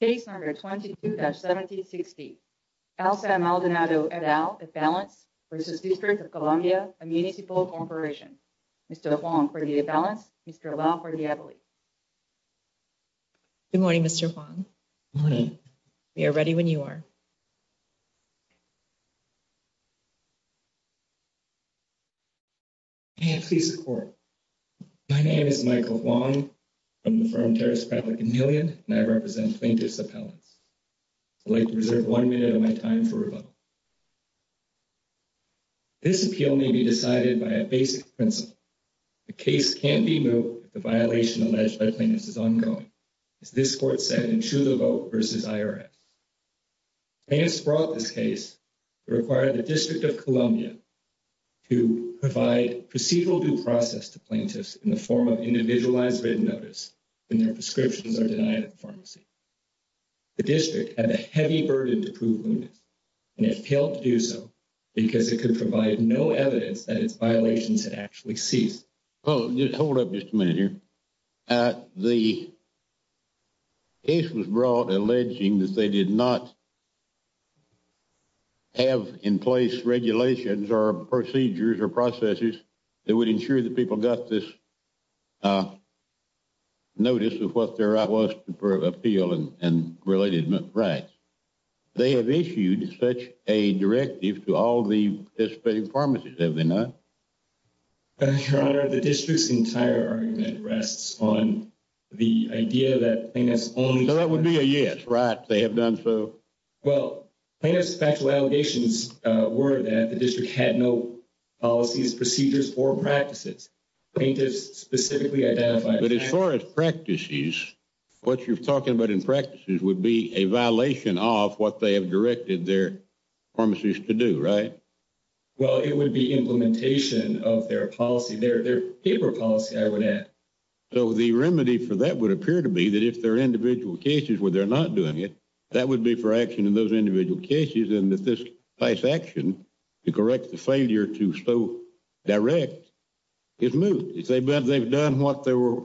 Case number 22-1760, Al Sam Maldonado et al, a balance, v. District of Columbia, a municipal corporation. Mr. Huang, for the balance. Mr. Lau, for the ability. Good morning, Mr. Huang. Good morning. We are ready when you are. And please support. My name is Michael Huang from the firm Terrace Public 1,000,000, and I represent plaintiff's appellants. I'd like to reserve 1 minute of my time for rebuttal. This appeal may be decided by a basic principle. The case can't be moved if the violation alleged by plaintiffs is ongoing. As this court said in True the Vote v. IRS. This brought this case required the District of Columbia. To provide procedural due process to plaintiffs in the form of individualized written notice and their prescriptions are denied at the pharmacy. The district had a heavy burden to prove. And it failed to do so, because it could provide no evidence that its violations had actually ceased. Oh, just hold up just a minute here. The case was brought alleging that they did not. Have in place regulations or procedures or processes that would ensure that people got this. Notice of what there was for appeal and related rights. They have issued such a directive to all the participating pharmacies, have they not? Your Honor, the district's entire argument rests on the idea that plaintiffs only. So that would be a yes, right? They have done so. Well, plaintiffs factual allegations were that the district had no policies, procedures or practices. Plaintiffs specifically identified. But as far as practices, what you're talking about in practices would be a violation of what they have directed their pharmacies to do, right? Well, it would be implementation of their policy, their paper policy, I would add. So the remedy for that would appear to be that if they're individual cases where they're not doing it, that would be for action in those individual cases. And if this takes action to correct the failure to so direct its move, they've done what they were.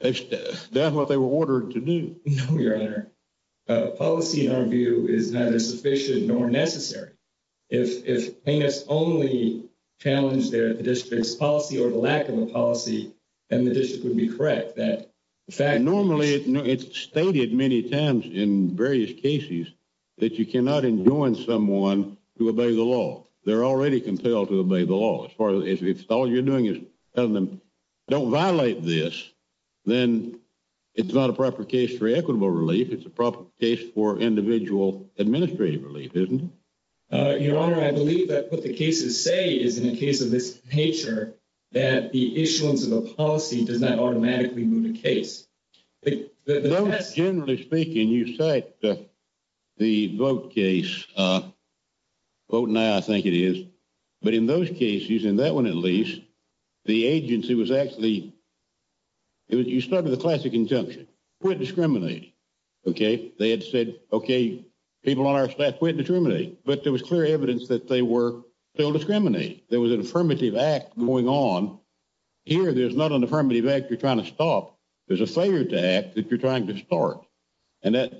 That's what they were ordered to do. No, Your Honor, policy in our view is neither sufficient nor necessary. If plaintiffs only challenge their district's policy or the lack of a policy, then the district would be correct that the fact. Normally, it's stated many times in various cases that you cannot enjoin someone to obey the law. They're already compelled to obey the law. As far as if all you're doing is telling them don't violate this, then it's not a proper case for equitable relief. It's a proper case for individual administrative relief, isn't it? Your Honor, I believe that what the cases say is in a case of this nature that the issuance of a policy does not automatically move the case. Generally speaking, you cite the vote case, vote now, I think it is. But in those cases, in that one at least, the agency was actually, you started the classic injunction, quit discriminating. Okay, they had said, okay, people on our staff quit discriminating, but there was clear evidence that they were still discriminating. There was an affirmative act going on. Here, there's not an affirmative act you're trying to stop. There's a failure to act that you're trying to start. And that,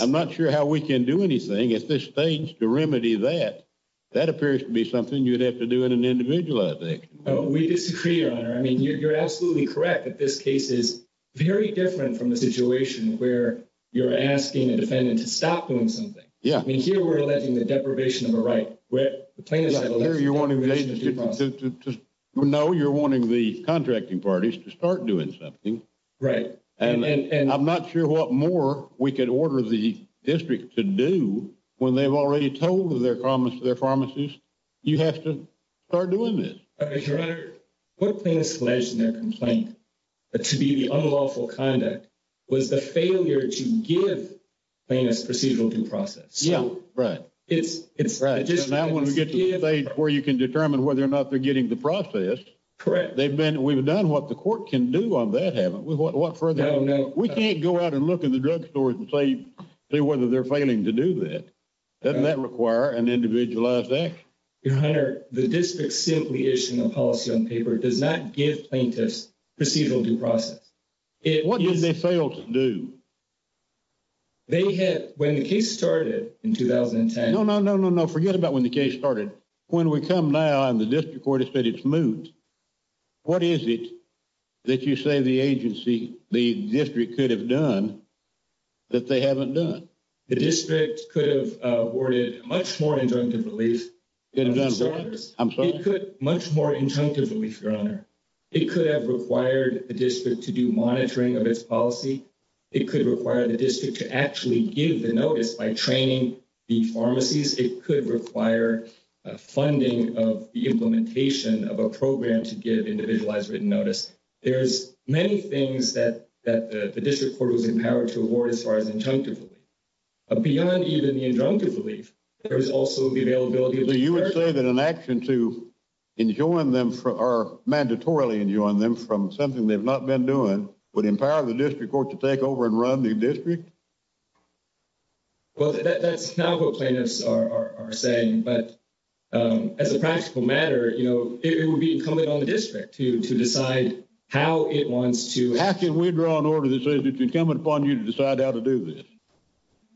I'm not sure how we can do anything at this stage to remedy that. That appears to be something you'd have to do in an individualized action. No, we disagree, Your Honor. I mean, you're absolutely correct that this case is very different from the situation where you're asking a defendant to stop doing something. Yeah. I mean, here we're alleging the deprivation of a right. Where the plaintiff's not allowed to do anything. To know you're wanting the contracting parties to start doing something. Right. And I'm not sure what more we could order the district to do when they've already told their promise to their pharmacist, you have to start doing this. Okay, Your Honor. What plaintiffs alleged in their complaint to be the unlawful conduct was the failure to give plaintiffs procedural due process. Yeah, right. It's, it's. Right, and I want to get to the stage where you can determine whether or not they're getting the process. Correct. They've been, we've done what the court can do on that, haven't we? What, what further? No, no. We can't go out and look at the drug stores and say whether they're failing to do that. Doesn't that require an individualized act? Your Honor, the district simply issued a policy on paper does not give plaintiffs procedural due process. What did they fail to do? They had, when the case started in 2010. No, no, no, no, no. Forget about when the case started. When we come now, and the district court has said it's moved. What is it that you say the agency, the district could have done that they haven't done? The district could have awarded much more injunctive relief. Could have done what? I'm sorry? It could, much more injunctive relief, Your Honor. It could have required the district to do monitoring of its policy. It could require the district to actually give the notice by training the pharmacies. It could require funding of the implementation of a program to give individualized written notice. There's many things that, that the district court was empowered to award as far as injunctive relief. Beyond even the injunctive relief, there's also the availability. So you would say that an action to enjoin them for, or mandatorily enjoin them from something they've not been doing would empower the district court to take over and run the district? Well, that's not what plaintiffs are saying, but as a practical matter, you know, it would be incumbent on the district to decide how it wants to. How can we draw an order that says it's incumbent upon you to decide how to do this?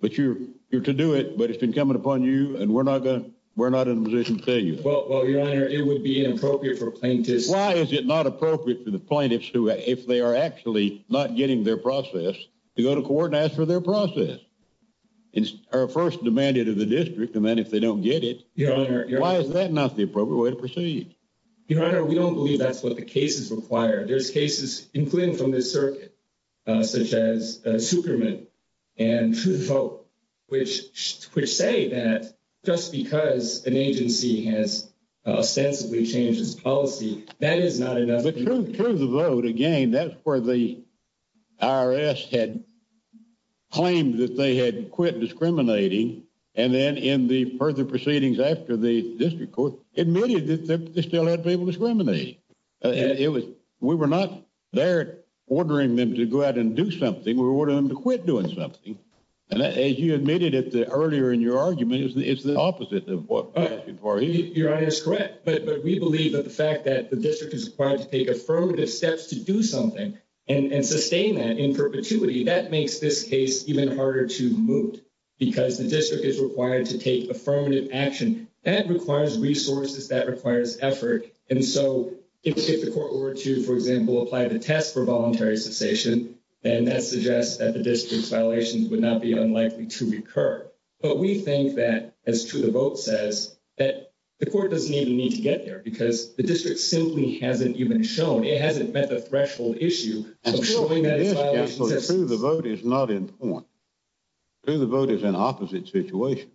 But you're, you're to do it, but it's been coming upon you and we're not gonna, we're not in a position to tell you. Well, Your Honor, it would be inappropriate for plaintiffs. Why is it not appropriate for the plaintiffs who, if they are actually not getting their process, to go to court and ask for their process? It's our first demanded of the district, and then if they don't get it, why is that not the appropriate way to proceed? Your Honor, we don't believe that's what the cases require. There's cases, including from this circuit, such as Superman and Truth Vote, which, which say that just because an agency has ostensibly changed its policy, that is not enough. But Truth Vote, again, that's where the IRS had claimed that they had quit discriminating, and then in the further proceedings after the district court, admitted that they still had people discriminating. It was, we were not there ordering them to go out and do something, we were ordering them to quit doing something. And as you admitted it earlier in your argument, it's the opposite of what passed before. Your Honor is correct, but we believe that the fact that the district is required to take affirmative steps to do something, and sustain that in perpetuity, that makes this case even harder to moot. Because the district is required to take affirmative action, that requires resources, that requires effort. And so, if the court were to, for example, apply the test for voluntary cessation, then that suggests that the district's violations would not be unlikely to recur. But we think that, as Truth Vote says, that the court doesn't even need to get there, because the district simply hasn't even shown, it hasn't met the threshold issue of showing that its violations have ceased. Truth Vote is not in point. Truth Vote is an opposite situation.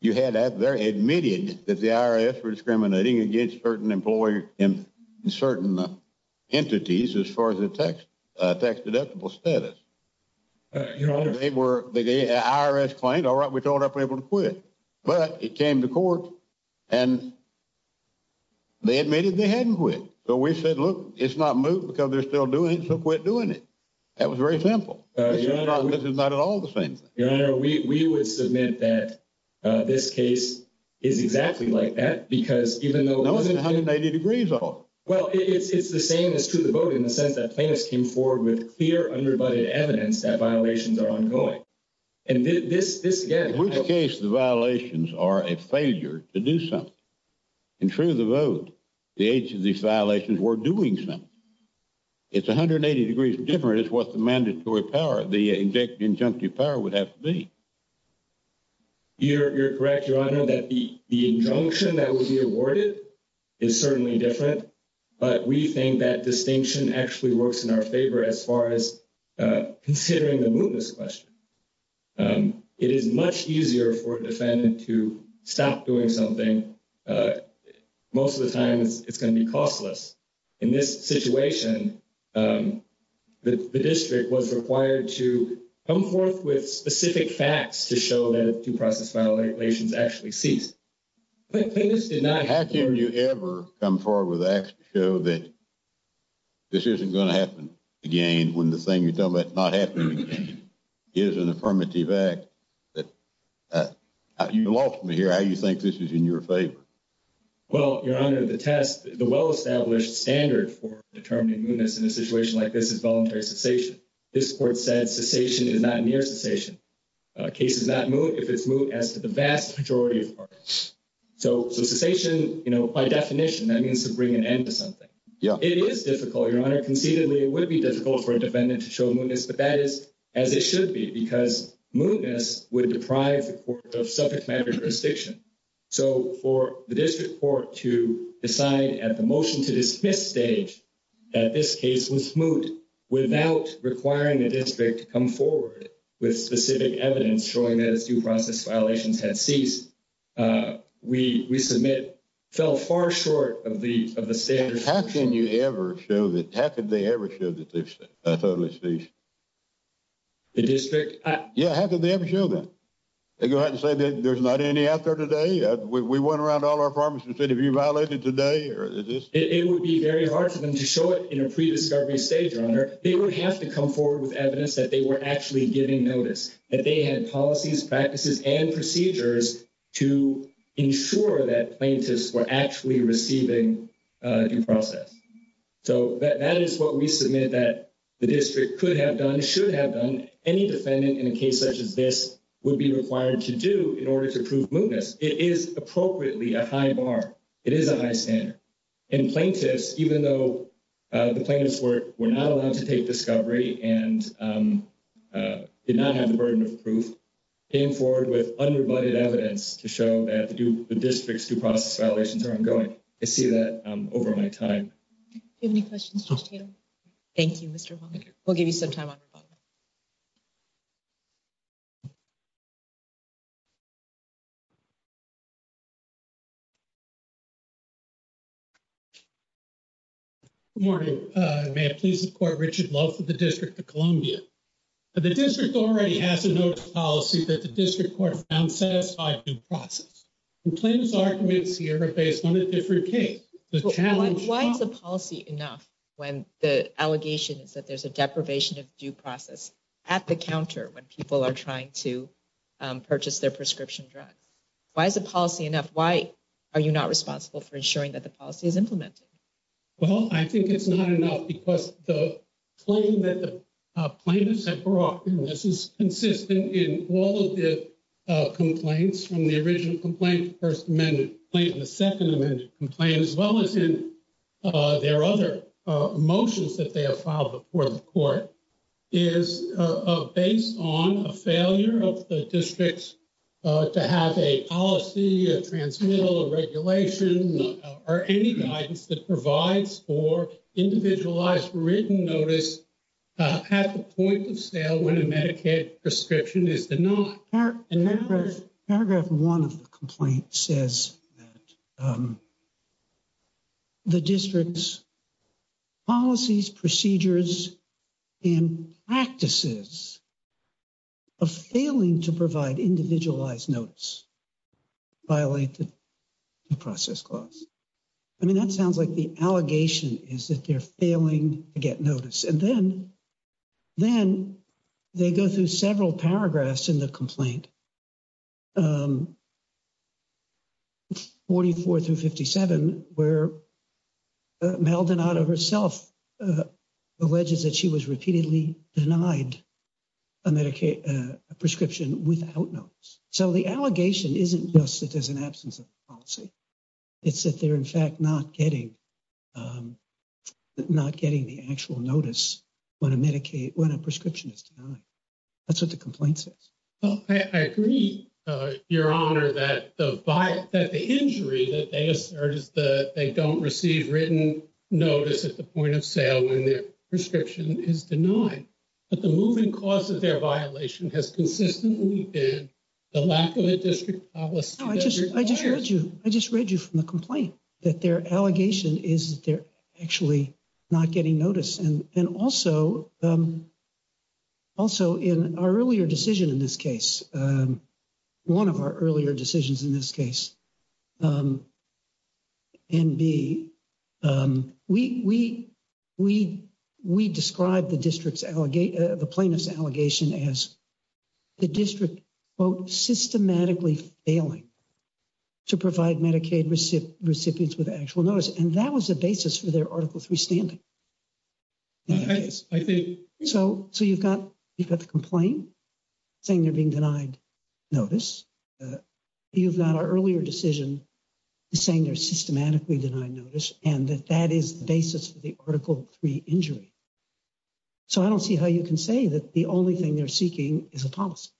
You had admitted that the IRS were discriminating against certain employees, and certain entities, as far as the tax deductible status. Your Honor. They were, the IRS claimed, all right, we thought I'd be able to quit. But it came to court, and they admitted they hadn't quit. So we said, look, it's not moot, because they're still doing it, so quit doing it. That was very simple. This is not at all the same thing. Your Honor, we would submit that this case is exactly like that, because even though— No, it's 180 degrees off. Well, it's the same as Truth Vote, in the sense that plaintiffs came forward with clear, unrebutted evidence that violations are ongoing. And this, again— In which case the violations are a failure to do something. In Truth Vote, the agents of these violations were doing something. It's 180 degrees different is what the mandatory power, the injunctive power would have to be. You're correct, Your Honor, that the injunction that will be awarded is certainly different. But we think that distinction actually works in our favor as far as considering the mootness question. It is much easier for a defendant to stop doing something. Most of the time, it's going to be costless. In this situation, the district was required to come forth with specific facts to show that due process violations actually ceased. But plaintiffs did not— that this isn't going to happen again when the thing you're talking about not happening is an affirmative act. You lost me here. How do you think this is in your favor? Well, Your Honor, the test, the well-established standard for determining mootness in a situation like this is voluntary cessation. This Court said cessation is not near cessation. Case is not moot if it's moot as to the vast majority of parties. So cessation, by definition, that means to bring an end to something. It is difficult, Your Honor. Conceitedly, it would be difficult for a defendant to show mootness, but that is as it should be because mootness would deprive the court of subject matter jurisdiction. So for the district court to decide at the motion-to-dismiss stage that this case was moot without requiring the district to come forward with specific evidence showing that due process violations had ceased, we submit fell far short of the standard. How can you ever show that? How could they ever show that they've totally ceased? The district? Yeah, how could they ever show that? They go out and say that there's not any out there today? We went around all our pharmacies and said, have you violated today? It would be very hard for them to show it in a pre-discovery stage, Your Honor. They would have to come forward with evidence that they were actually giving notice, that they had policies, practices, and procedures to ensure that plaintiffs were actually receiving due process. So that is what we submit that the district could have done, should have done. Any defendant in a case such as this would be required to do in order to prove mootness. It is appropriately a high bar. It is a high standard. And plaintiffs, even though the plaintiffs were not allowed to take discovery and did not have the burden of proof, came forward with unrebutted evidence to show that the district's due process violations are ongoing. I see that over my time. Do you have any questions, Judge Tatum? Thank you, Mr. Hall. We'll give you some time on your phone. Good morning. May I please support Richard Love for the District of Columbia? The district already has a notice of policy that the district court found satisfied due process. The plaintiff's arguments here are based on a different case. Why is the policy enough when the allegation is that there's a deprivation of due process at the counter when people are trying to purchase their prescription drugs? Why is the policy enough? Why are you not responsible for ensuring that the policy is implemented? Well, I think it's not enough because the claim that the plaintiffs have brought, and this is consistent in all of the complaints from the original complaint, the first amended complaint, and the second amended complaint, as well as in their other motions that they have filed before the court, is based on a failure of the district to have a policy, a transmittal, a regulation, or any guidance that provides for individualized written notice at the point of sale when a Medicaid prescription is denied. Paragraph one of the complaint says that the district's policies, procedures, and practices of failing to provide individualized notice violate the due process clause. I mean, that sounds like the allegation is that they're failing to get notice. And then they go through several paragraphs in the complaint, 44 through 57, where Maldonado herself alleges that she was repeatedly denied a prescription without notice. So the allegation isn't just that there's an absence of policy. It's that they're, in fact, not getting the actual notice when a prescription is denied. That's what the complaint says. Well, I agree, Your Honor, that the injury that they assert is that they don't receive written notice at the point of sale when their prescription is denied. But the moving cause of their violation has consistently been the lack of a district policy. No, I just read you from the complaint that their allegation is that they're actually not getting notice. And also, in our earlier decision in this case, one of our earlier decisions in this case, NB, we described the plaintiff's allegation as the district, quote, systematically failing to provide Medicaid recipients with actual notice. And that was the basis for their Article 3 standing. So you've got the complaint saying they're being denied notice. You've got our earlier decision saying they're systematically denied notice, and that that is the basis for the Article 3 injury. So I don't see how you can say that the only thing they're seeking is a policy.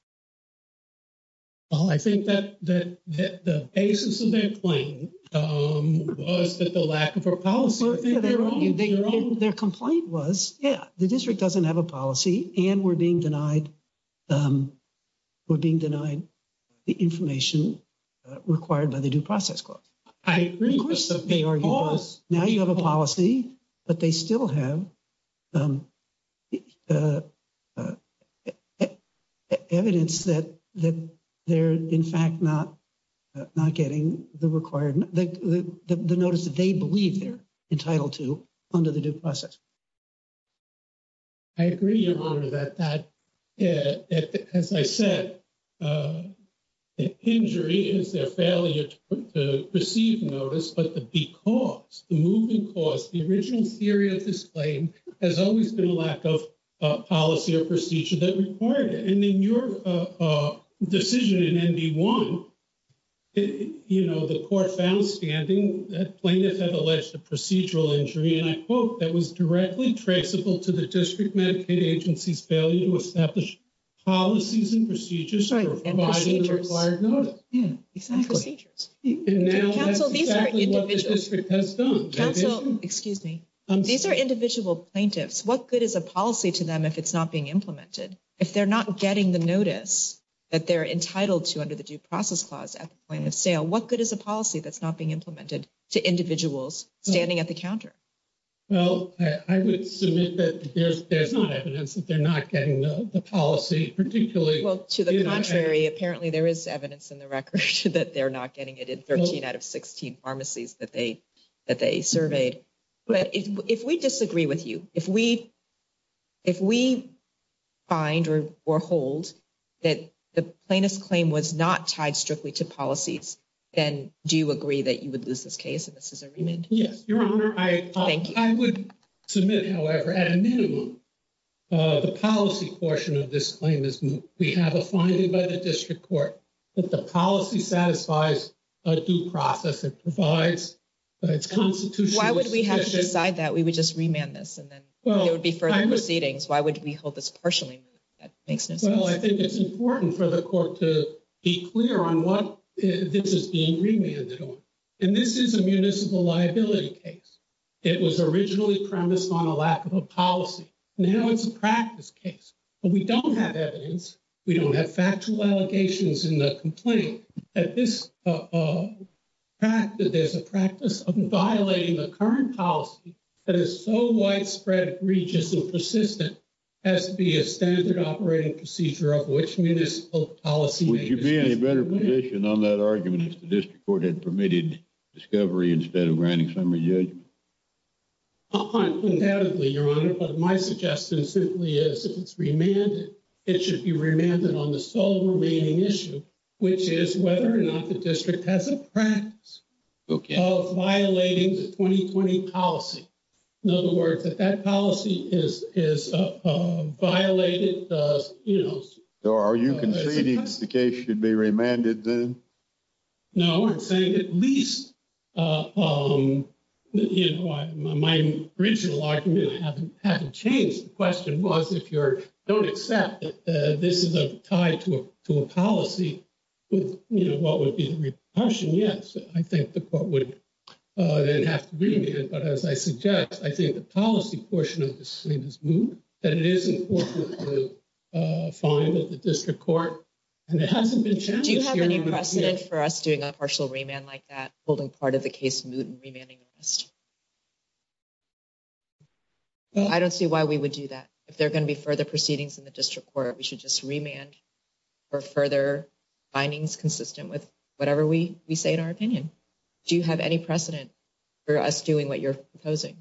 Well, I think that the basis of their claim was that the lack of a policy. Their complaint was, yeah, the district doesn't have a policy and we're being denied the information required by the Due Process Clause. I agree. Now, you have a policy, but they still have evidence that they're, in fact, not getting the required, the notice that they believe they're entitled to under the Due Process. I agree, Your Honor, that that, as I said, the injury is their failure to receive notice, but the because, the moving cause, the original theory of this claim has always been a lack of policy or procedure that required it. And in your decision in NB1, you know, the court found standing that plaintiffs have directly traceable to the district Medicaid agency's failure to establish policies and procedures for providing the required notice. Right, and procedures. Exactly. And now that's exactly what the district has done. Counsel, excuse me. These are individual plaintiffs. What good is a policy to them if it's not being implemented? If they're not getting the notice that they're entitled to under the Due Process Clause at the point of sale, what good is a policy that's not being implemented to individuals standing at the counter? Well, I would submit that there's not evidence that they're not getting the policy particularly. Well, to the contrary, apparently there is evidence in the record that they're not getting it in 13 out of 16 pharmacies that they surveyed. But if we disagree with you, if we find or hold that the plaintiff's claim was not tied strictly to policies, then do you agree that you would lose this case and this is a remand? Yes, Your Honor. Thank you. I would submit, however, at a minimum, the policy portion of this claim is we have a finding by the district court that the policy satisfies a due process. It provides its constitution. Why would we have to decide that? We would just remand this and then there would be further proceedings. Why would we hold this partially? That makes no sense. Well, I think it's important for the court to be clear on what this is being remanded and this is a municipal liability case. It was originally premised on a lack of a policy. Now it's a practice case, but we don't have evidence. We don't have factual allegations in the complaint. At this practice, there's a practice of violating the current policy that is so widespread, egregious and persistent as to be a standard operating procedure of which municipal policy. Would you be in a better position on that argument if the district court had permitted discovery instead of granting summary judgment? Undoubtedly, Your Honor, but my suggestion simply is if it's remanded, it should be remanded on the sole remaining issue, which is whether or not the district has a practice of violating the 2020 policy. In other words, that that policy is violated. So are you conceding the case should be remanded then? No, I'm saying at least my original argument hasn't changed. The question was, if you don't accept that this is tied to a policy, what would be the repulsion? Yes, I think the court would then have to remand, but as I suggest, I think the policy portion of this is moot and it is important to find that the district court and it hasn't been changed. Do you have any precedent for us doing a partial remand like that, holding part of the case moot and remanding the rest? I don't see why we would do that. If there are going to be further proceedings in the district court, we should just remand for further findings consistent with whatever we say in our opinion. Do you have any precedent for us doing what you're proposing?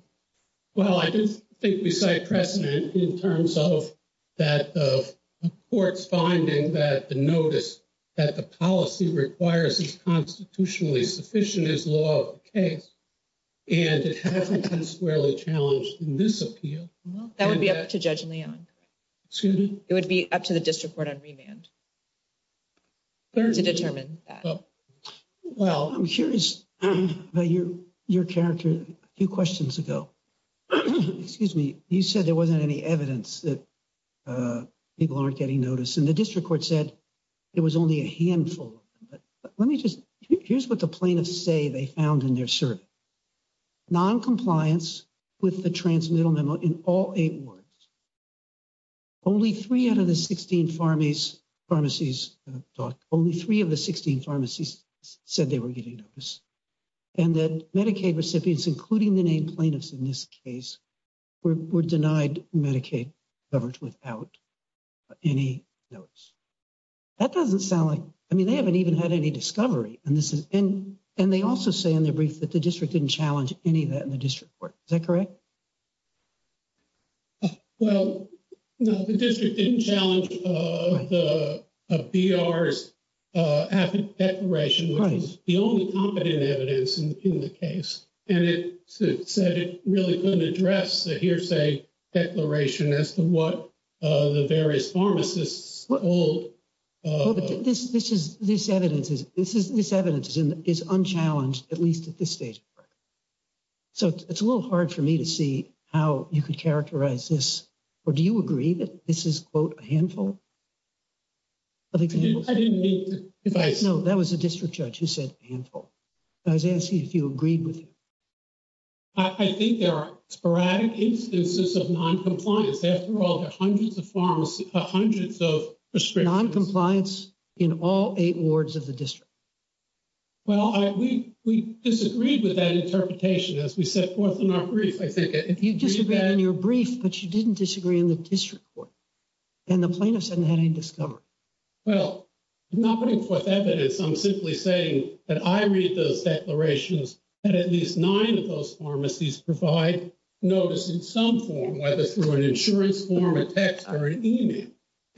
Well, I do think we cite precedent in terms of that of the court's finding that the notice that the policy requires is constitutionally sufficient as law of the case, and it hasn't been squarely challenged in this appeal. That would be up to Judge Leong. It would be up to the district court on remand to determine that. Well, I'm curious about your character a few questions ago. Excuse me. You said there wasn't any evidence that people aren't getting notice. And the district court said it was only a handful. Let me just, here's what the plaintiffs say they found in their survey. Noncompliance with the transmittal memo in all eight wards. Only three out of the 16 pharmacies, only three of the 16 pharmacies said they were getting notice. And that Medicaid recipients, including the named plaintiffs in this case, were denied Medicaid coverage without any notice. That doesn't sound like, I mean, they haven't even had any discovery and this is, and they also say in their brief that the district didn't challenge any of that in the district court. Is that correct? Well, no, the district didn't challenge the BR's declaration, which is the only competent evidence in the case. And it said it really couldn't address the hearsay declaration as to what the various pharmacists told. This, this is, this evidence is, this is, this evidence is unchallenged, at least at this stage. So it's a little hard for me to see how you could characterize this, or do you agree that this is quote a handful? I didn't mean to. No, that was a district judge who said a handful. I was asking if you agreed with him. I think there are sporadic instances of noncompliance. After all, there are hundreds of pharmacies, hundreds of prescriptions. Noncompliance in all eight wards of the district. Well, I, we, we disagreed with that interpretation as we set forth in our brief. I think if you disagree on your brief, but you didn't disagree in the district court and the plaintiffs hadn't had any discovery. Well, I'm not putting forth evidence. I'm simply saying that I read those declarations and at least nine of those pharmacies provide notice in some form, whether through an insurance form, a text or an email.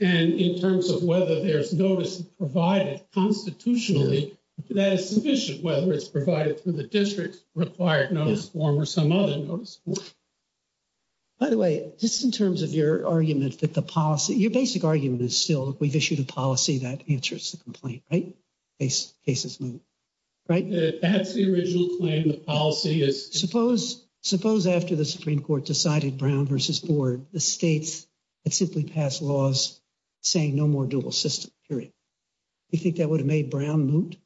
And in terms of whether there's notice provided constitutionally, that is sufficient, whether it's provided through the district required notice form or some other notice. By the way, just in terms of your argument that the policy, your basic argument is still we've issued a policy that answers the complaint, right? Case cases move, right? That's the original claim. The policy is suppose, suppose after the Supreme Court decided Brown versus board, the states had simply passed laws saying no more dual system, period. You think that would have made Brown moot?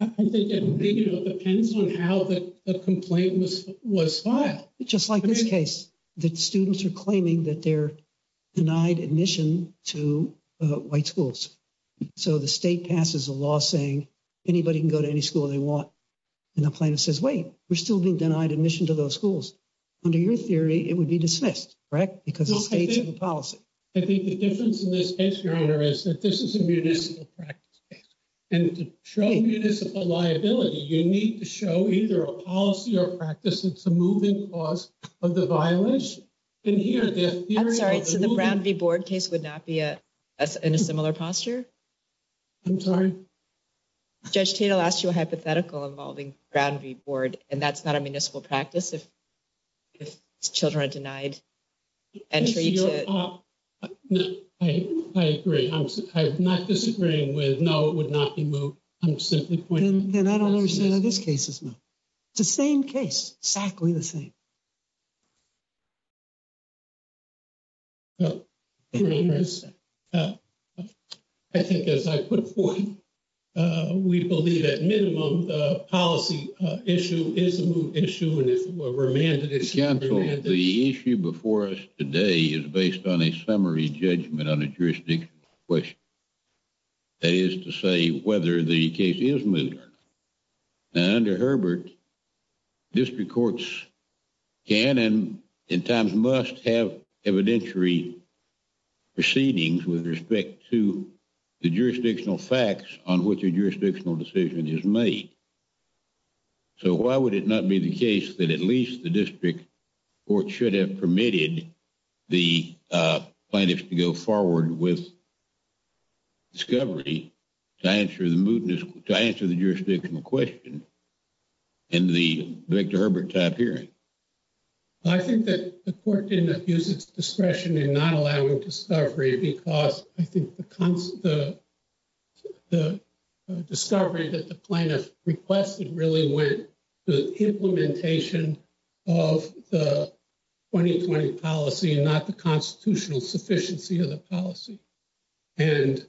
I think it depends on how the complaint was, was filed. Just like this case that students are claiming that they're denied admission to white schools. So the state passes a law saying anybody can go to any school they want. And the plaintiff says, wait, we're still being denied admission to those schools. Under your theory, it would be dismissed, correct? Because the states have a policy. I think the difference in this case, your honor, is that this is a municipal practice case. And to show municipal liability, you need to show either a policy or practice. It's a moving cause of the violence. And here, the theory of the moving. I'm sorry, so the Brown v. Board case would not be in a similar posture? I'm sorry? Judge Tatel asked you a hypothetical involving Brown v. Board, and that's not a municipal practice if children are denied. No, I agree. I'm not disagreeing with, no, it would not be moot. I'm simply pointing. Then I don't understand how this case is moot. It's the same case, exactly the same. I think as I put it before you, we believe at minimum, the policy issue is a moot issue. Remain. The issue before us today is based on a summary judgment on a jurisdiction question. That is to say whether the case is moot or not. Now under Herbert, district courts can and in times must have evidentiary proceedings with respect to the jurisdictional facts on which a jurisdictional decision is made. So why would it not be the case that at least the district court should have permitted the plaintiffs to go forward with discovery to answer the jurisdiction question in the Victor Herbert type hearing? I think that the court did not use its discretion in not allowing discovery because I think the discovery that the plaintiff requested really went to implementation of the 2020 policy and not the constitutional sufficiency of the policy. And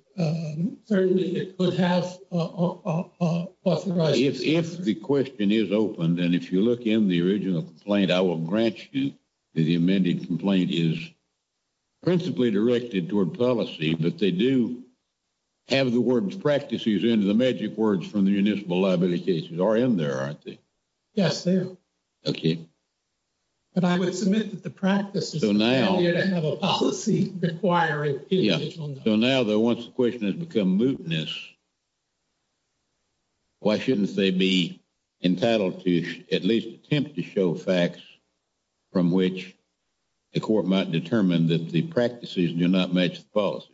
certainly it could have. If the question is open, then if you look in the original complaint, I will grant you the amended complaint is principally directed toward policy, but they do have the words practices into the magic words from the municipal liability cases are in there, aren't they? Yes, they are. Okay. But I would submit that the practice is to have a policy requirement. Yeah. So now though, once the question has become mootness, why shouldn't they be entitled to at least attempt to show facts from which the court might determine that the practices do not match the policy?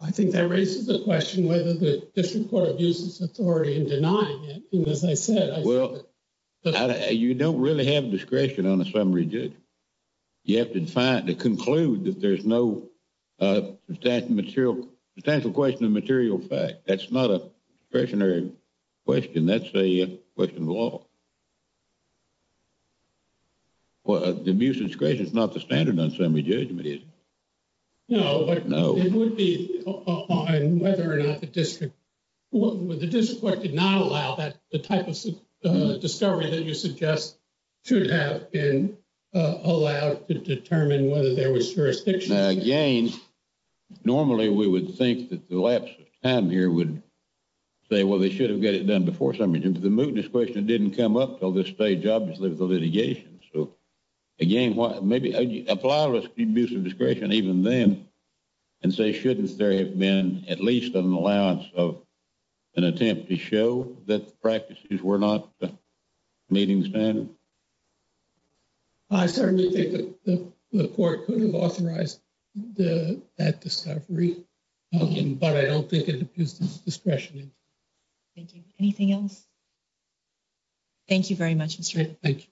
I think that raises the question whether the district court abuses authority in denying it. And as I said, well, you don't really have discretion on a summary judge. You have to find, to conclude that there's no substantial question of material fact. That's not a discretionary question. That's a question of law. The abuse of discretion is not the standard on summary judgment, is it? No, but it would be on whether or not the district court did not allow that the type of discovery that you suggest should have been allowed to determine whether there was jurisdiction. Now, again, normally we would think that the lapse of time here would say, well, they should have got it done before summary judgment. The mootness question didn't come up till this stage, obviously, with the litigation. So again, maybe apply the abuse of discretion even then and say, shouldn't there have been at least an allowance of an attempt to show that the practices were not meeting standard? I certainly think that the court could have authorized that discovery, but I don't think it abuses discretion. Thank you. Anything else? Thank you very much, Mr. Thank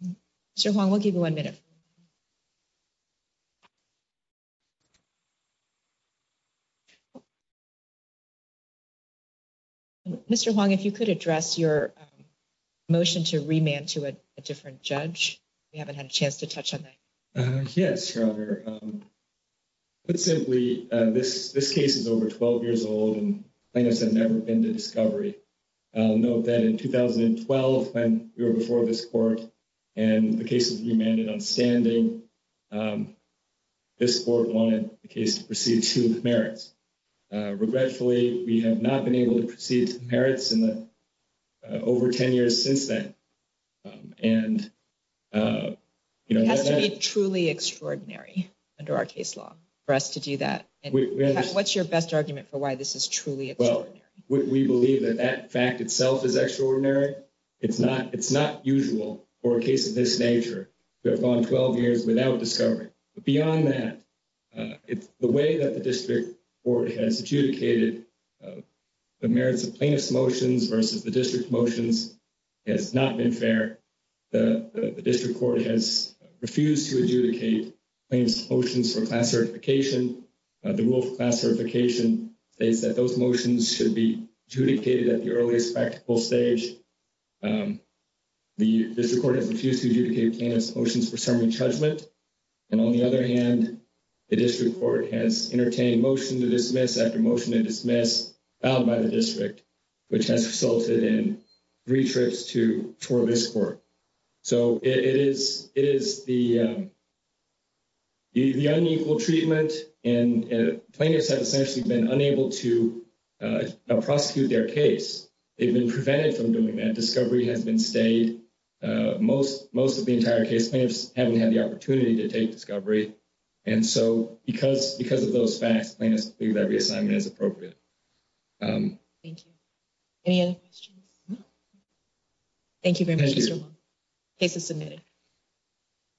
you. Mr. Huang, we'll give you one minute. Mr. Huang, if you could address your motion to remand to a different judge. We haven't had a chance to touch on that. Yes, Your Honor. Put simply, this case is over 12 years old, and plaintiffs have never been to discovery. I'll note that in 2012, when we were before this court and the case was remanded on standing, this court wanted the case to proceed to merits. Regretfully, we have not been able to proceed to merits in the over 10 years since then. It has to be truly extraordinary under our case law for us to do that. What's your best argument for why this is truly extraordinary? We believe that that fact itself is extraordinary. It's not usual for a case of this nature to have gone 12 years without discovery. Beyond that, the way that the district court has adjudicated the merits of plaintiff's motions versus the district motions has not been fair. The district court has refused to adjudicate plaintiff's motions for class certification. The rule for class certification states that those motions should be adjudicated at the earliest practical stage. The district court has refused to adjudicate plaintiff's motions for summary judgment, and on the other hand, the district court has entertained motion to dismiss after motion to dismiss, filed by the district, which has resulted in three trips for this court. It is the unequal treatment, and plaintiffs have essentially been unable to prosecute their case. They've been prevented from doing that. Discovery has been stayed. Most of the entire case, plaintiffs haven't had the opportunity to take discovery, and so because of those facts, plaintiffs believe that reassignment is appropriate. Thank you. Any other questions? Thank you very much, Mr. Wong. Case is submitted.